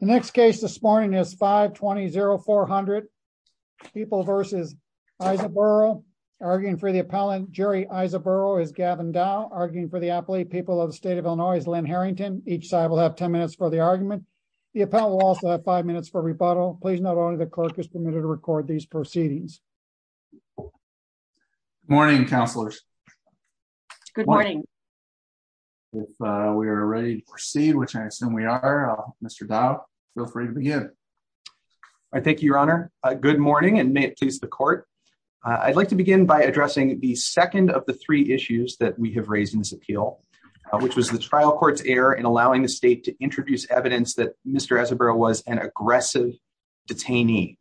The next case this morning is 520-0400, People v. Ezebuiroh. Arguing for the appellant, Jerry Ezebuiroh is Gavin Dow. Arguing for the appellate, People of the State of Illinois, is Lynn Harrington. Each side will have 10 minutes for the argument. The appellant will also have 5 minutes for rebuttal. Please note only the clerk is permitted to record these proceedings. Good morning, councillors. Good morning. If we are ready to proceed, which I assume we are, Mr. Dow, feel free to begin. Thank you, Your Honor. Good morning, and may it please the court. I'd like to begin by addressing the second of the three issues that we have raised in this appeal, which was the trial court's error in allowing the state to introduce evidence that Mr. Ezebuiroh was an aggressive detainee.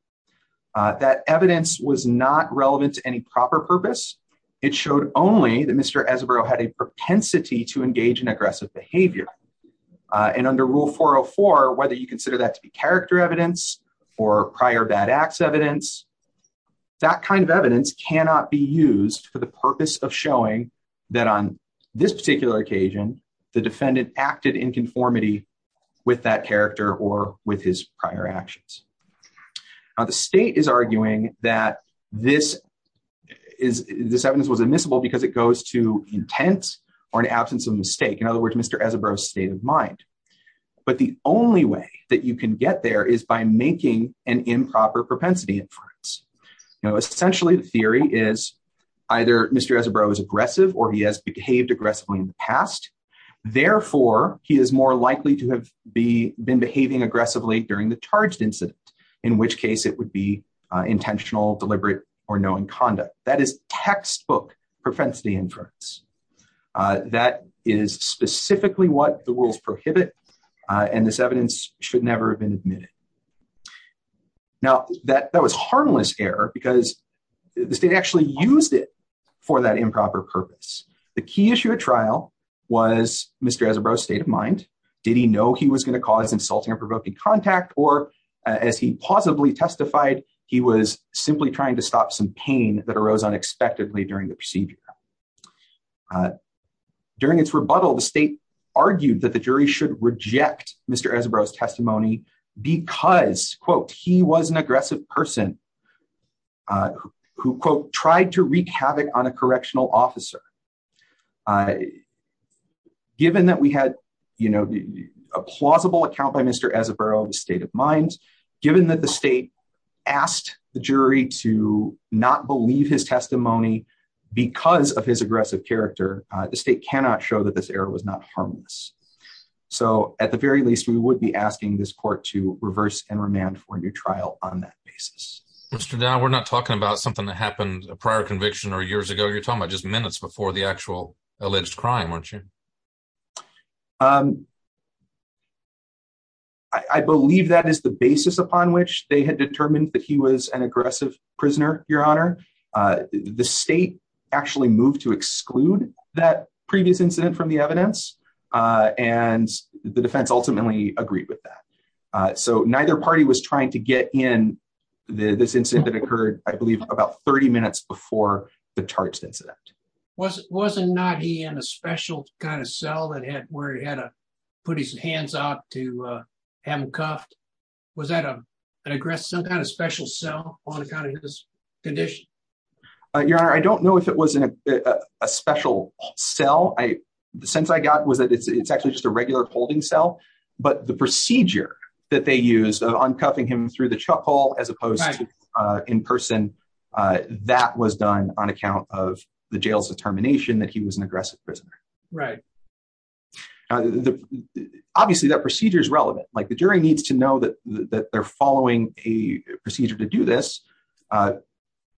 That evidence was not relevant to any proper purpose. It showed only that Mr. Ezebuiroh had a propensity to engage in aggressive behavior. Under Rule 404, whether you consider that to be character evidence or prior bad acts evidence, that kind of evidence cannot be used for the purpose of showing that on this particular occasion, the defendant acted in conformity with that character or with his prior actions. The state is arguing that this evidence was because it goes to intent or an absence of mistake. In other words, Mr. Ezebuiroh's state of mind. But the only way that you can get there is by making an improper propensity inference. You know, essentially, the theory is either Mr. Ezebuiroh was aggressive or he has behaved aggressively in the past. Therefore, he is more likely to have been behaving aggressively during the charged incident, in which case it would be intentional, deliberate, or knowing conduct. That textbook propensity inference. That is specifically what the rules prohibit, and this evidence should never have been admitted. Now, that was harmless error because the state actually used it for that improper purpose. The key issue at trial was Mr. Ezebuiroh's state of mind. Did he know he was going to cause insulting and provoking contact, or as he testified, he was simply trying to stop some pain that arose unexpectedly during the procedure. During its rebuttal, the state argued that the jury should reject Mr. Ezebuiroh's testimony because, quote, he was an aggressive person who, quote, tried to wreak havoc on a correctional officer. Given that we had, you know, a plausible account by Mr. Ezebuiroh, the state of mind, given that the state asked the jury to not believe his testimony because of his aggressive character, the state cannot show that this error was not harmless. So, at the very least, we would be asking this court to reverse and remand for a new trial on that basis. Mr. Dow, we're not talking about something that happened a prior conviction or years ago. You're talking about just minutes before the actual alleged crime, aren't you? I believe that is the basis upon which they had determined that he was an aggressive prisoner, Your Honor. The state actually moved to exclude that previous incident from the evidence, and the defense ultimately agreed with that. So, neither party was trying to get in this incident that occurred, I believe, about 30 minutes before the charged incident. Wasn't not he in a special kind of cell that had where he had to put his hands out to have him cuffed? Was that an aggressive, some kind of special cell on account of his condition? Your Honor, I don't know if it was a special cell. The sense I got was that it's actually just a regular holding cell, but the procedure that they used of uncuffing him through the chuck hole as opposed to in person, that was done on account of the jail's determination that he was an aggressive prisoner. Right. Obviously, that procedure is relevant. The jury needs to know that they're following a procedure to do this,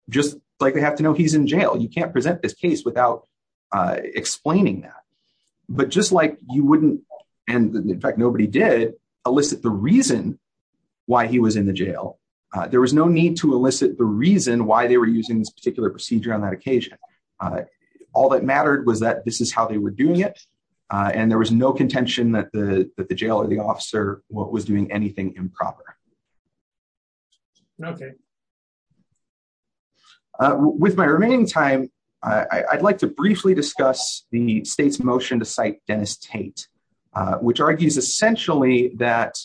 just like they have to know he's in jail. You can't present this case without explaining that. But just like you wouldn't, and in fact, why he was in the jail, there was no need to elicit the reason why they were using this particular procedure on that occasion. All that mattered was that this is how they were doing it, and there was no contention that the jail or the officer was doing anything improper. Okay. With my remaining time, I'd like to briefly discuss the state's motion to cite Dennis Tate, which argues essentially that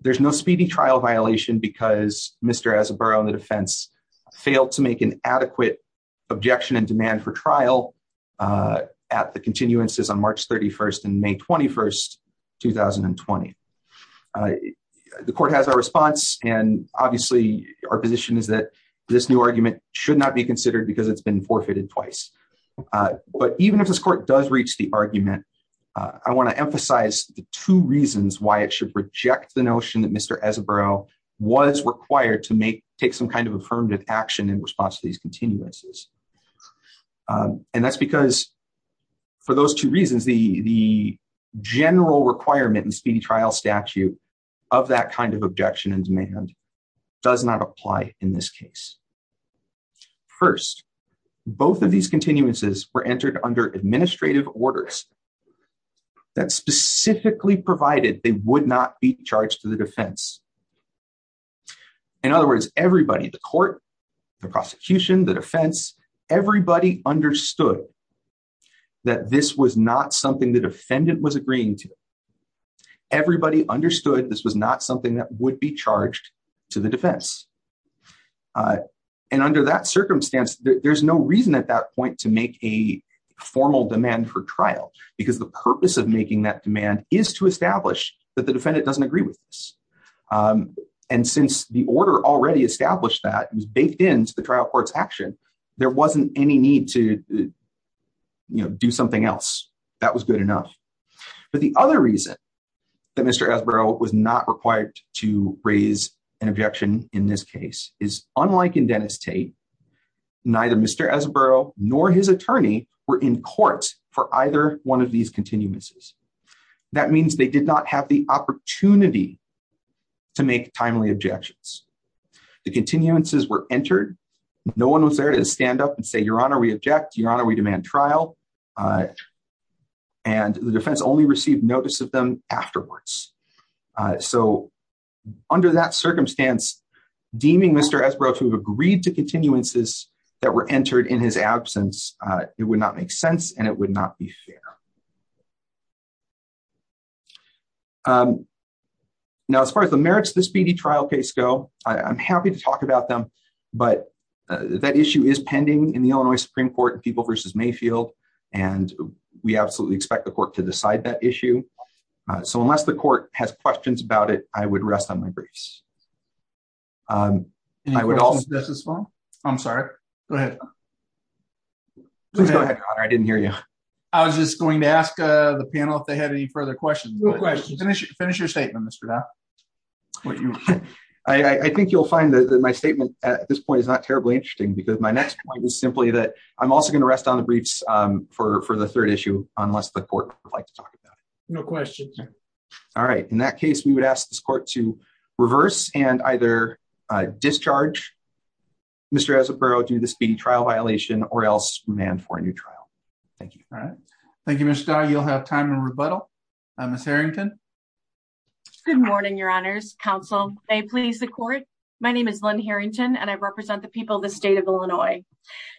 there's no speedy trial violation because Mr. Azzaburro on the defense failed to make an adequate objection and demand for trial at the continuances on March 31 and May 21, 2020. The court has a response, and obviously, our position is that this new argument should not be considered because it's been forfeited twice. But even if this court does reach the argument, I want to emphasize the two reasons why it should reject the notion that Mr. Azzaburro was required to take some kind of affirmative action in response to these continuances. And that's because for those two reasons, the general requirement in speedy trial statute of that kind of objection and demand does not apply in this case. First, both of these continuances were entered under administrative orders that specifically provided they would not be charged to the defense. In other words, everybody, the court, the prosecution, the defense, everybody understood that this was not something the defendant was agreeing to. Everybody understood this was not something that would be charged to the defense. And under that circumstance, there's no reason at that point to make a formal demand for trial because the purpose of making that demand is to establish that the defendant doesn't agree with this. And since the order already established that, it was baked into the trial court's action, there wasn't any need to, you know, do something else. That was good enough. But the other reason that Mr. Azzaburro was not required to raise an objection in this case is unlike in Dennis Tate, neither Mr. Azzaburro nor his attorney were in court for either one of these continuances. That means they did not have the opportunity to make timely objections. The continuances were entered. No one was there to stand up and say, Your Honor, we object. Your Honor, we demand trial. And the defense only received notice of them afterwards. So under that circumstance, deeming Mr. Azzaburro to have agreed to continuances that were entered in his absence, it would not make sense and it would not be fair. Now, as far as the merits of this BD trial case go, I'm happy to talk about them. But that issue is pending in the Illinois Supreme Court in People v. Mayfield. And we absolutely expect the court to decide that issue. So unless the court has questions about it, I would rest on my briefs. I was just going to ask the panel if they had any further questions. Finish your statement, Mr. Dow. I think you'll find that my statement at this point is not terribly interesting, because my next point is simply that I'm also going to rest on the briefs for the third issue, unless the court would like to talk about it. No questions. All right. In that case, we would ask this court to reverse and either discharge Mr. Azzaburro due to this BD trial violation or else demand for a new trial. Thank you. All right. Thank you, Mr. Dow. You'll have time to rebuttal. Ms. Harrington. Good morning, Your Honors. Counsel, may it please the court, my name is Lynn Harrington, and I represent the people of the state of Illinois.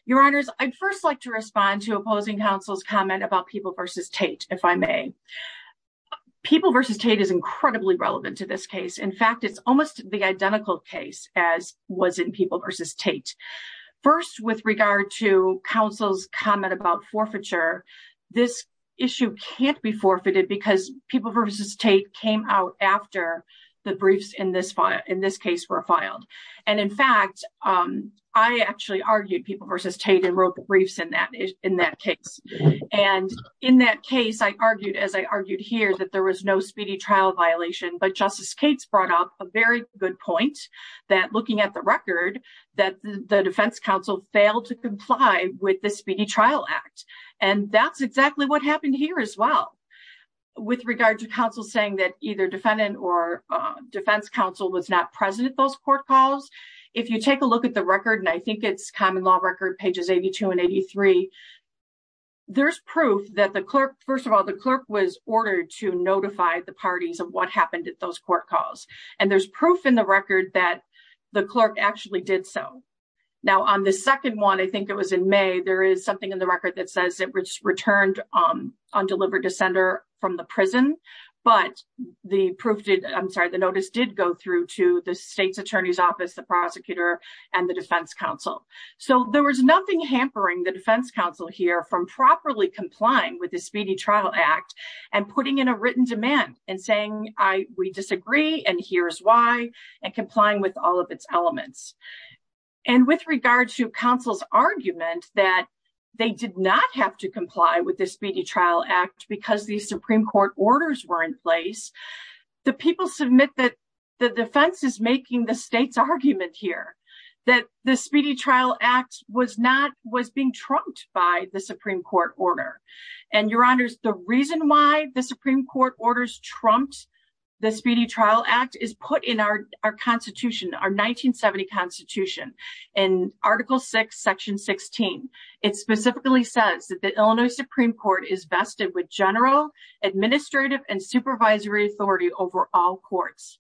Your Honors, I'd first like to respond to opposing counsel's comment about People v. Tate, if I may. People v. Tate is incredibly relevant to this case. In fact, it's almost the identical case as was in People v. Tate. First, with regard to counsel's comment about forfeiture, this issue can't be forfeited because People v. Tate came out after the briefs in this case were filed. In fact, I actually argued People v. Tate and wrote briefs in that case. In that case, I argued, as I argued here, that there was no speedy trial violation, but Justice Cates brought up a very good point, that looking at the record, that the defense counsel failed to comply with the Speedy Trial Act. That's exactly what happened here as well. With regard to counsel saying that defendant or defense counsel was not present at those court calls, if you take a look at the record, and I think it's Common Law Record, pages 82 and 83, there's proof that the clerk, first of all, the clerk was ordered to notify the parties of what happened at those court calls, and there's proof in the record that the clerk actually did so. Now, on the second one, I think it was in May, there is something in the record that says it was returned on delivered to sender from the prison, but the proof did, I'm sorry, the notice did go through to the state's attorney's office, the prosecutor, and the defense counsel. So, there was nothing hampering the defense counsel here from properly complying with the Speedy Trial Act and putting in a written demand and saying, we disagree, and here's why, and complying with all of its elements. And with regard to counsel's argument that they did not have to comply with the Speedy Trial Act because these Supreme Court orders were in place, the people submit that the defense is making the state's argument here, that the Speedy Trial Act was not, was being trumped by the Supreme Court order. And your honors, the reason why the Supreme Court orders trumped the Speedy Trial Act is put in our Constitution, our 1970 Constitution, in Article 6, Section 16. It specifically says that Illinois Supreme Court is vested with general administrative and supervisory authority over all courts.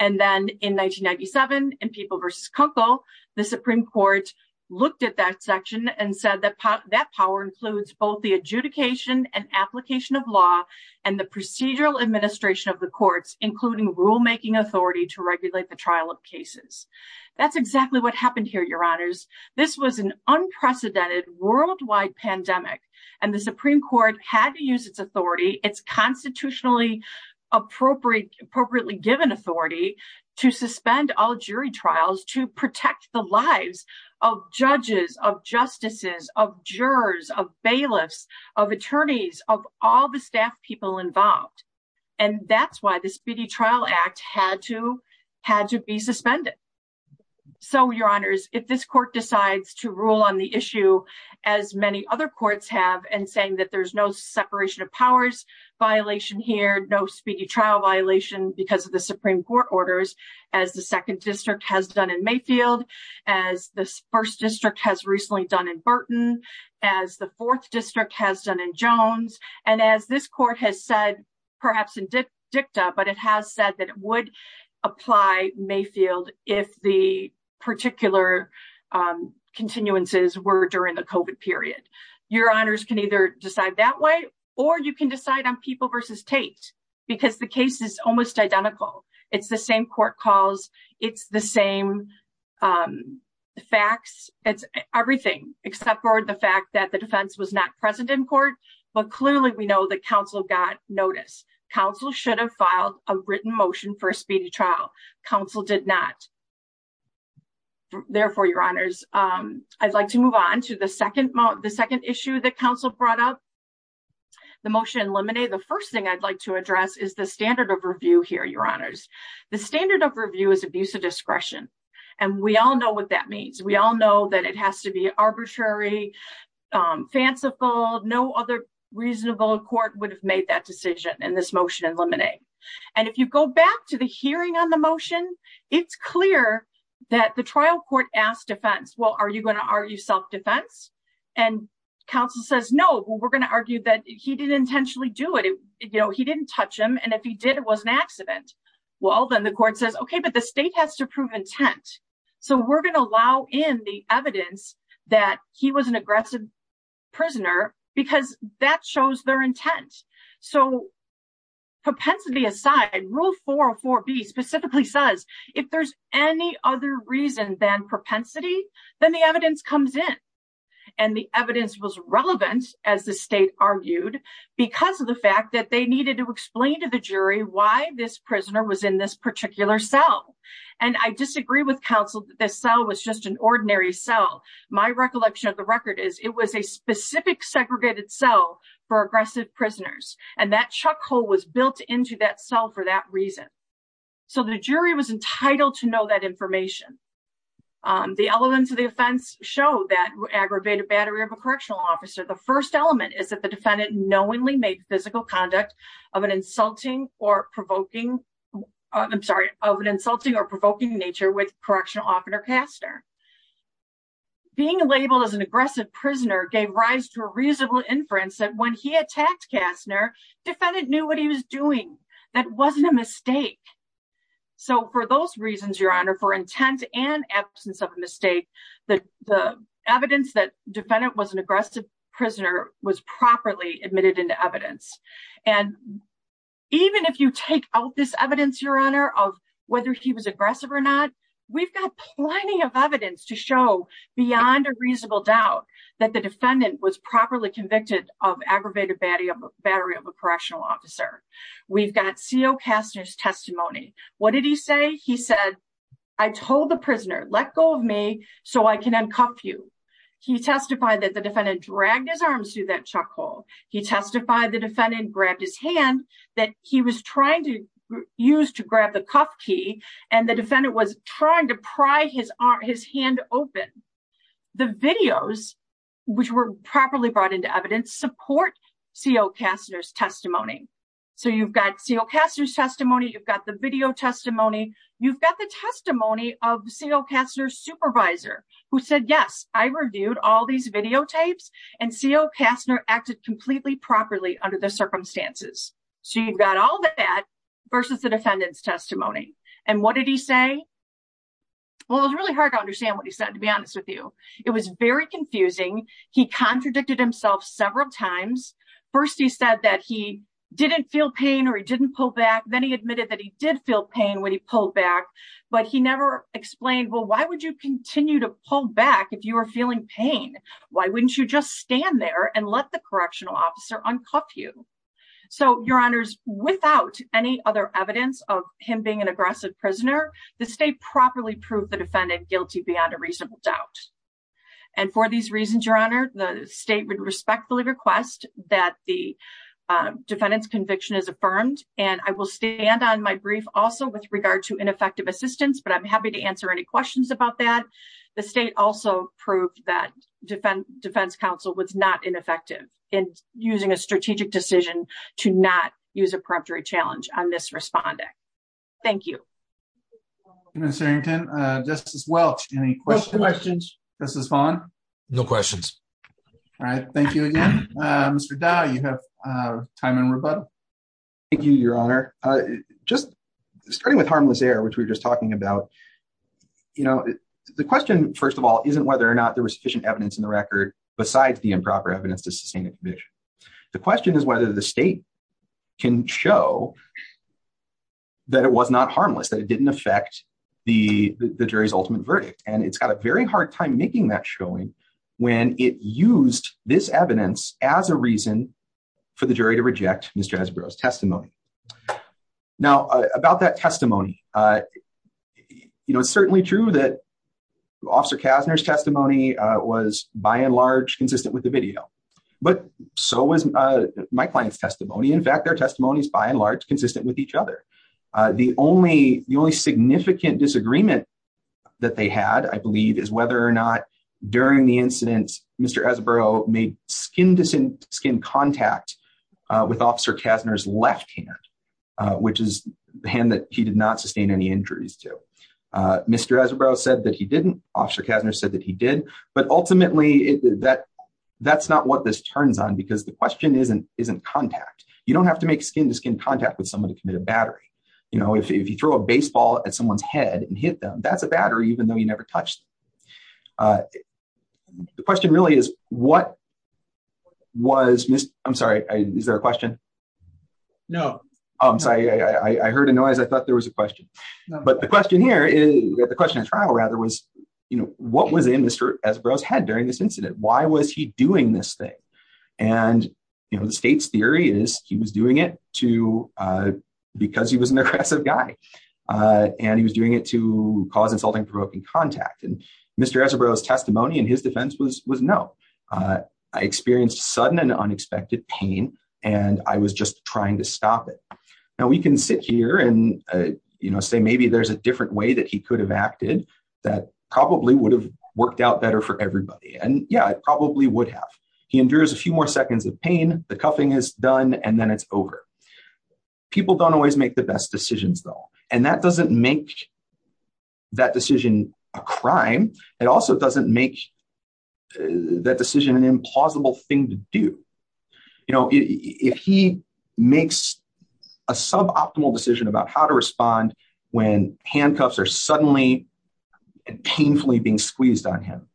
And then in 1997, in People v. Kunkel, the Supreme Court looked at that section and said that that power includes both the adjudication and application of law and the procedural administration of the courts, including rulemaking authority to regulate the trial of cases. That's exactly what happened here, your honors. This was an unprecedented worldwide pandemic, and the Supreme Court had to use its authority, its constitutionally appropriately given authority to suspend all jury trials to protect the lives of judges, of justices, of jurors, of bailiffs, of attorneys, of all the staff people involved. And that's why the Speedy Trial Act had to be suspended. So your honors, if this court decides to rule on the issue, as many other courts have, and saying that there's no separation of powers violation here, no speedy trial violation because of the Supreme Court orders, as the Second District has done in Mayfield, as the First District has recently done in Burton, as the Fourth District has done in Jones, and as this Mayfield, if the particular continuances were during the COVID period. Your honors can either decide that way, or you can decide on People v. Tate, because the case is almost identical. It's the same court calls. It's the same facts. It's everything, except for the fact that the defense was not present in court. But clearly, we know that counsel got notice. Counsel should have a written motion for a speedy trial. Counsel did not. Therefore, your honors, I'd like to move on to the second issue that counsel brought up, the motion in limine. The first thing I'd like to address is the standard of review here, your honors. The standard of review is abuse of discretion. And we all know what that means. We all know that it has to be arbitrary, fanciful. No other reasonable court would have made that decision in this motion in limine. And if you go back to the hearing on the motion, it's clear that the trial court asked defense, well, are you going to argue self-defense? And counsel says, no, we're going to argue that he didn't intentionally do it. You know, he didn't touch him. And if he did, it was an accident. Well, then the court says, okay, but the state has to prove intent. So we're going to allow in the evidence that he was an aggressive prisoner because that shows their intent. So propensity aside, rule 404B specifically says, if there's any other reason than propensity, then the evidence comes in. And the evidence was relevant as the state argued because of the fact that they needed to explain to the jury why this prisoner was in this particular cell. And I disagree with counsel this cell was just an ordinary cell. My recollection of the record is it was a specific segregated cell for aggressive prisoners. And that chuck hole was built into that cell for that reason. So the jury was entitled to know that information. The elements of the offense show that aggravated battery of a correctional officer. The first element is that the defendant knowingly made physical conduct of an insulting or provoking, I'm sorry, of an insulting or provoking offender, Kastner. Being labeled as an aggressive prisoner gave rise to a reasonable inference that when he attacked Kastner, defendant knew what he was doing. That wasn't a mistake. So for those reasons, Your Honor, for intent and absence of a mistake, the evidence that defendant was an aggressive prisoner was properly admitted into evidence. And even if you take out this evidence, Your Honor, of whether he was aggressive or not, we've got plenty of evidence to show beyond a reasonable doubt that the defendant was properly convicted of aggravated battery of a correctional officer. We've got CO Kastner's testimony. What did he say? He said, I told the prisoner, let go of me so I can uncuff you. He testified that the defendant dragged his arms through that chuck hole. He testified the defendant grabbed his hand that he was trying to use to grab the cuff key, and the defendant was trying to pry his hand open. The videos, which were properly brought into evidence, support CO Kastner's testimony. So you've got CO Kastner's testimony. You've got the video testimony. You've got the testimony of CO Kastner's supervisor who said, yes, I reviewed all these videotapes, and CO Kastner acted completely properly under the circumstances. So you've got all that versus the defendant's testimony. And what did he say? Well, it was really hard to understand what he said, to be honest with you. It was very confusing. He contradicted himself several times. First, he said that he didn't feel pain or he didn't pull back. Then he admitted that he did feel pain when he pulled back, but he never explained, well, why would you continue to pull back if you were feeling pain? Why wouldn't you just stand there and let the correctional officer uncuff you? So your honors, without any other evidence of him being an aggressive prisoner, the state properly proved the defendant guilty beyond a reasonable doubt. And for these reasons, your honor, the state would respectfully request that the defendant's conviction is affirmed. And I will stand on my brief also with regard to ineffective assistance, but I'm happy to answer any questions about that. The state also proved that defense counsel was not ineffective in using a strategic decision to not use a preemptory challenge on this responding. Thank you. Thank you, Ms. Harrington. Justice Welch, any questions? No questions. Justice Vaughn? No questions. All right. Thank you again. Mr. Dau, you have time in rebuttal. Thank you, your honor. Just starting with harmless air, which we were just talking about, the question, first of all, isn't whether or not there was sufficient evidence in the record besides the improper evidence to sustain a conviction. The question is whether the state can show that it was not harmless, that it didn't affect the jury's ultimate verdict. And it's got a very hard time making that showing when it used this evidence as a reason for the jury to reject Mr. Ezeberro's testimony. Now, about that testimony, it's certainly true that Officer Kasner's testimony was, by and large, consistent with the video, but so was my client's testimony. In fact, their testimony is, by and large, consistent with each other. The only significant disagreement that they had, I believe, is whether or not during the incident Mr. Ezeberro made skin-to-skin contact with Officer Kasner's left hand, which is the hand that he did not sustain any injuries to. Mr. Ezeberro said that he didn't. Officer Kasner said that he did. But ultimately, that's not what this turns on because the question isn't contact. You don't have to make skin-to-skin contact with someone to commit a battery. If you throw a baseball at someone's That's a battery even though you never touched. The question really is, what was Mr. Ezeberro's head during this incident? Why was he doing this thing? And the state's theory is he was doing it to because he was an aggressive guy. And he was doing it to cause insulting provoking contact. And Mr. Ezeberro's testimony in his defense was no. I experienced sudden and unexpected pain, and I was just trying to stop it. Now we can sit here and say maybe there's a different way that he could have acted that probably would have worked out better for everybody. And yeah, it probably would have. He endures a few more seconds of pain, the cuffing is done, and then it's over. People don't always make the best decisions though. And that doesn't make that decision a crime. It also doesn't make that decision an implausible thing to do. You know, if he makes a suboptimal decision about how to respond when handcuffs are suddenly and painfully being squeezed on him,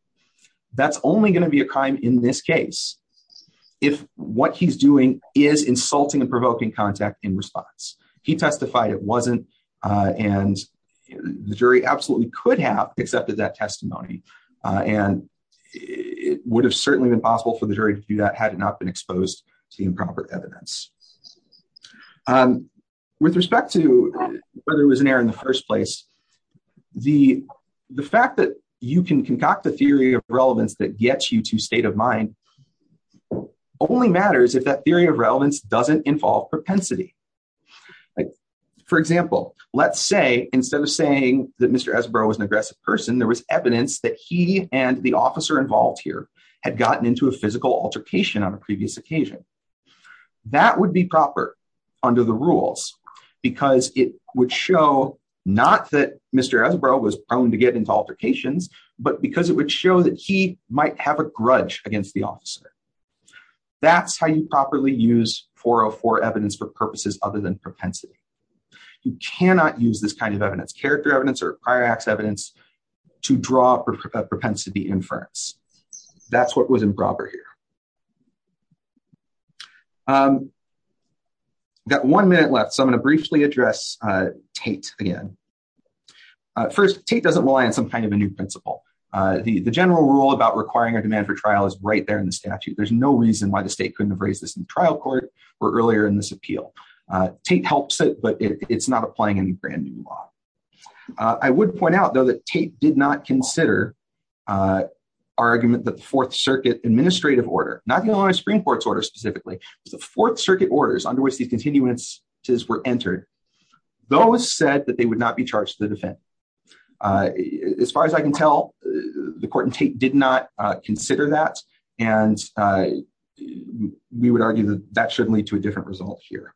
that's only going to be a crime in this case. If what he's doing is insulting and provoking contact in response. He testified it wasn't, and the jury absolutely could have accepted that testimony. And it would have certainly been possible for the jury to do that had it not been exposed to the improper evidence. With respect to whether it was an error in the first place, the fact that you can concoct a theory of relevance that gets you to state of mind only matters if that theory of relevance doesn't involve propensity. For example, let's say instead of saying that Mr. Ezebro was an aggressive person, there was evidence that he and the officer involved here had gotten into a physical altercation on a previous occasion. That would be proper under the rules because it would show not that Mr. Ezebro was prone to get into altercations, but because it would show that he might have a grudge against the officer. That's how you properly use 404 evidence for purposes other than propensity. You cannot use this kind of evidence, character evidence or prior acts evidence, to draw propensity inference. That's what was improper here. I've got one minute left, so I'm going to briefly address Tate again. First, Tate doesn't rely on some kind of a new principle. The general rule about requiring a demand for trial is right there in the statute. There's no reason why the state couldn't have raised this in trial court or earlier in this appeal. Tate helps it, but it's not applying any brand new law. I would point out, though, that Tate did not consider our argument that the Fourth Circuit administrative order, not the Illinois Supreme Court's order specifically, but the Fourth Circuit orders under which these continuances were entered, those said that they would not be charged to the defendant. As far as I can tell, the court in Tate did not consider that. We would argue that that should lead to a different result here.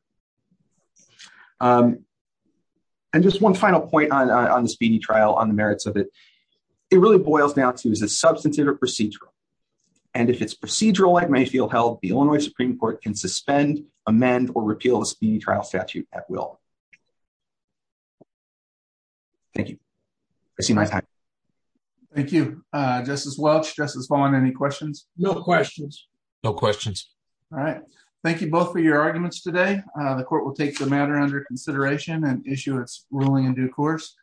Just one final point on the speedy trial, on the merits of it. It really boils down to, is it substantive or procedural? If it's procedural, like Mayfield held, the Illinois Supreme Court can suspend, amend, or repeal the speedy trial statute at will. Thank you. I see my time. Thank you, Justice Welch. Justice Vaughn, any questions? No questions. No questions. All right. Thank you both for your arguments today. The court will take the matter under consideration and issue its ruling in due course.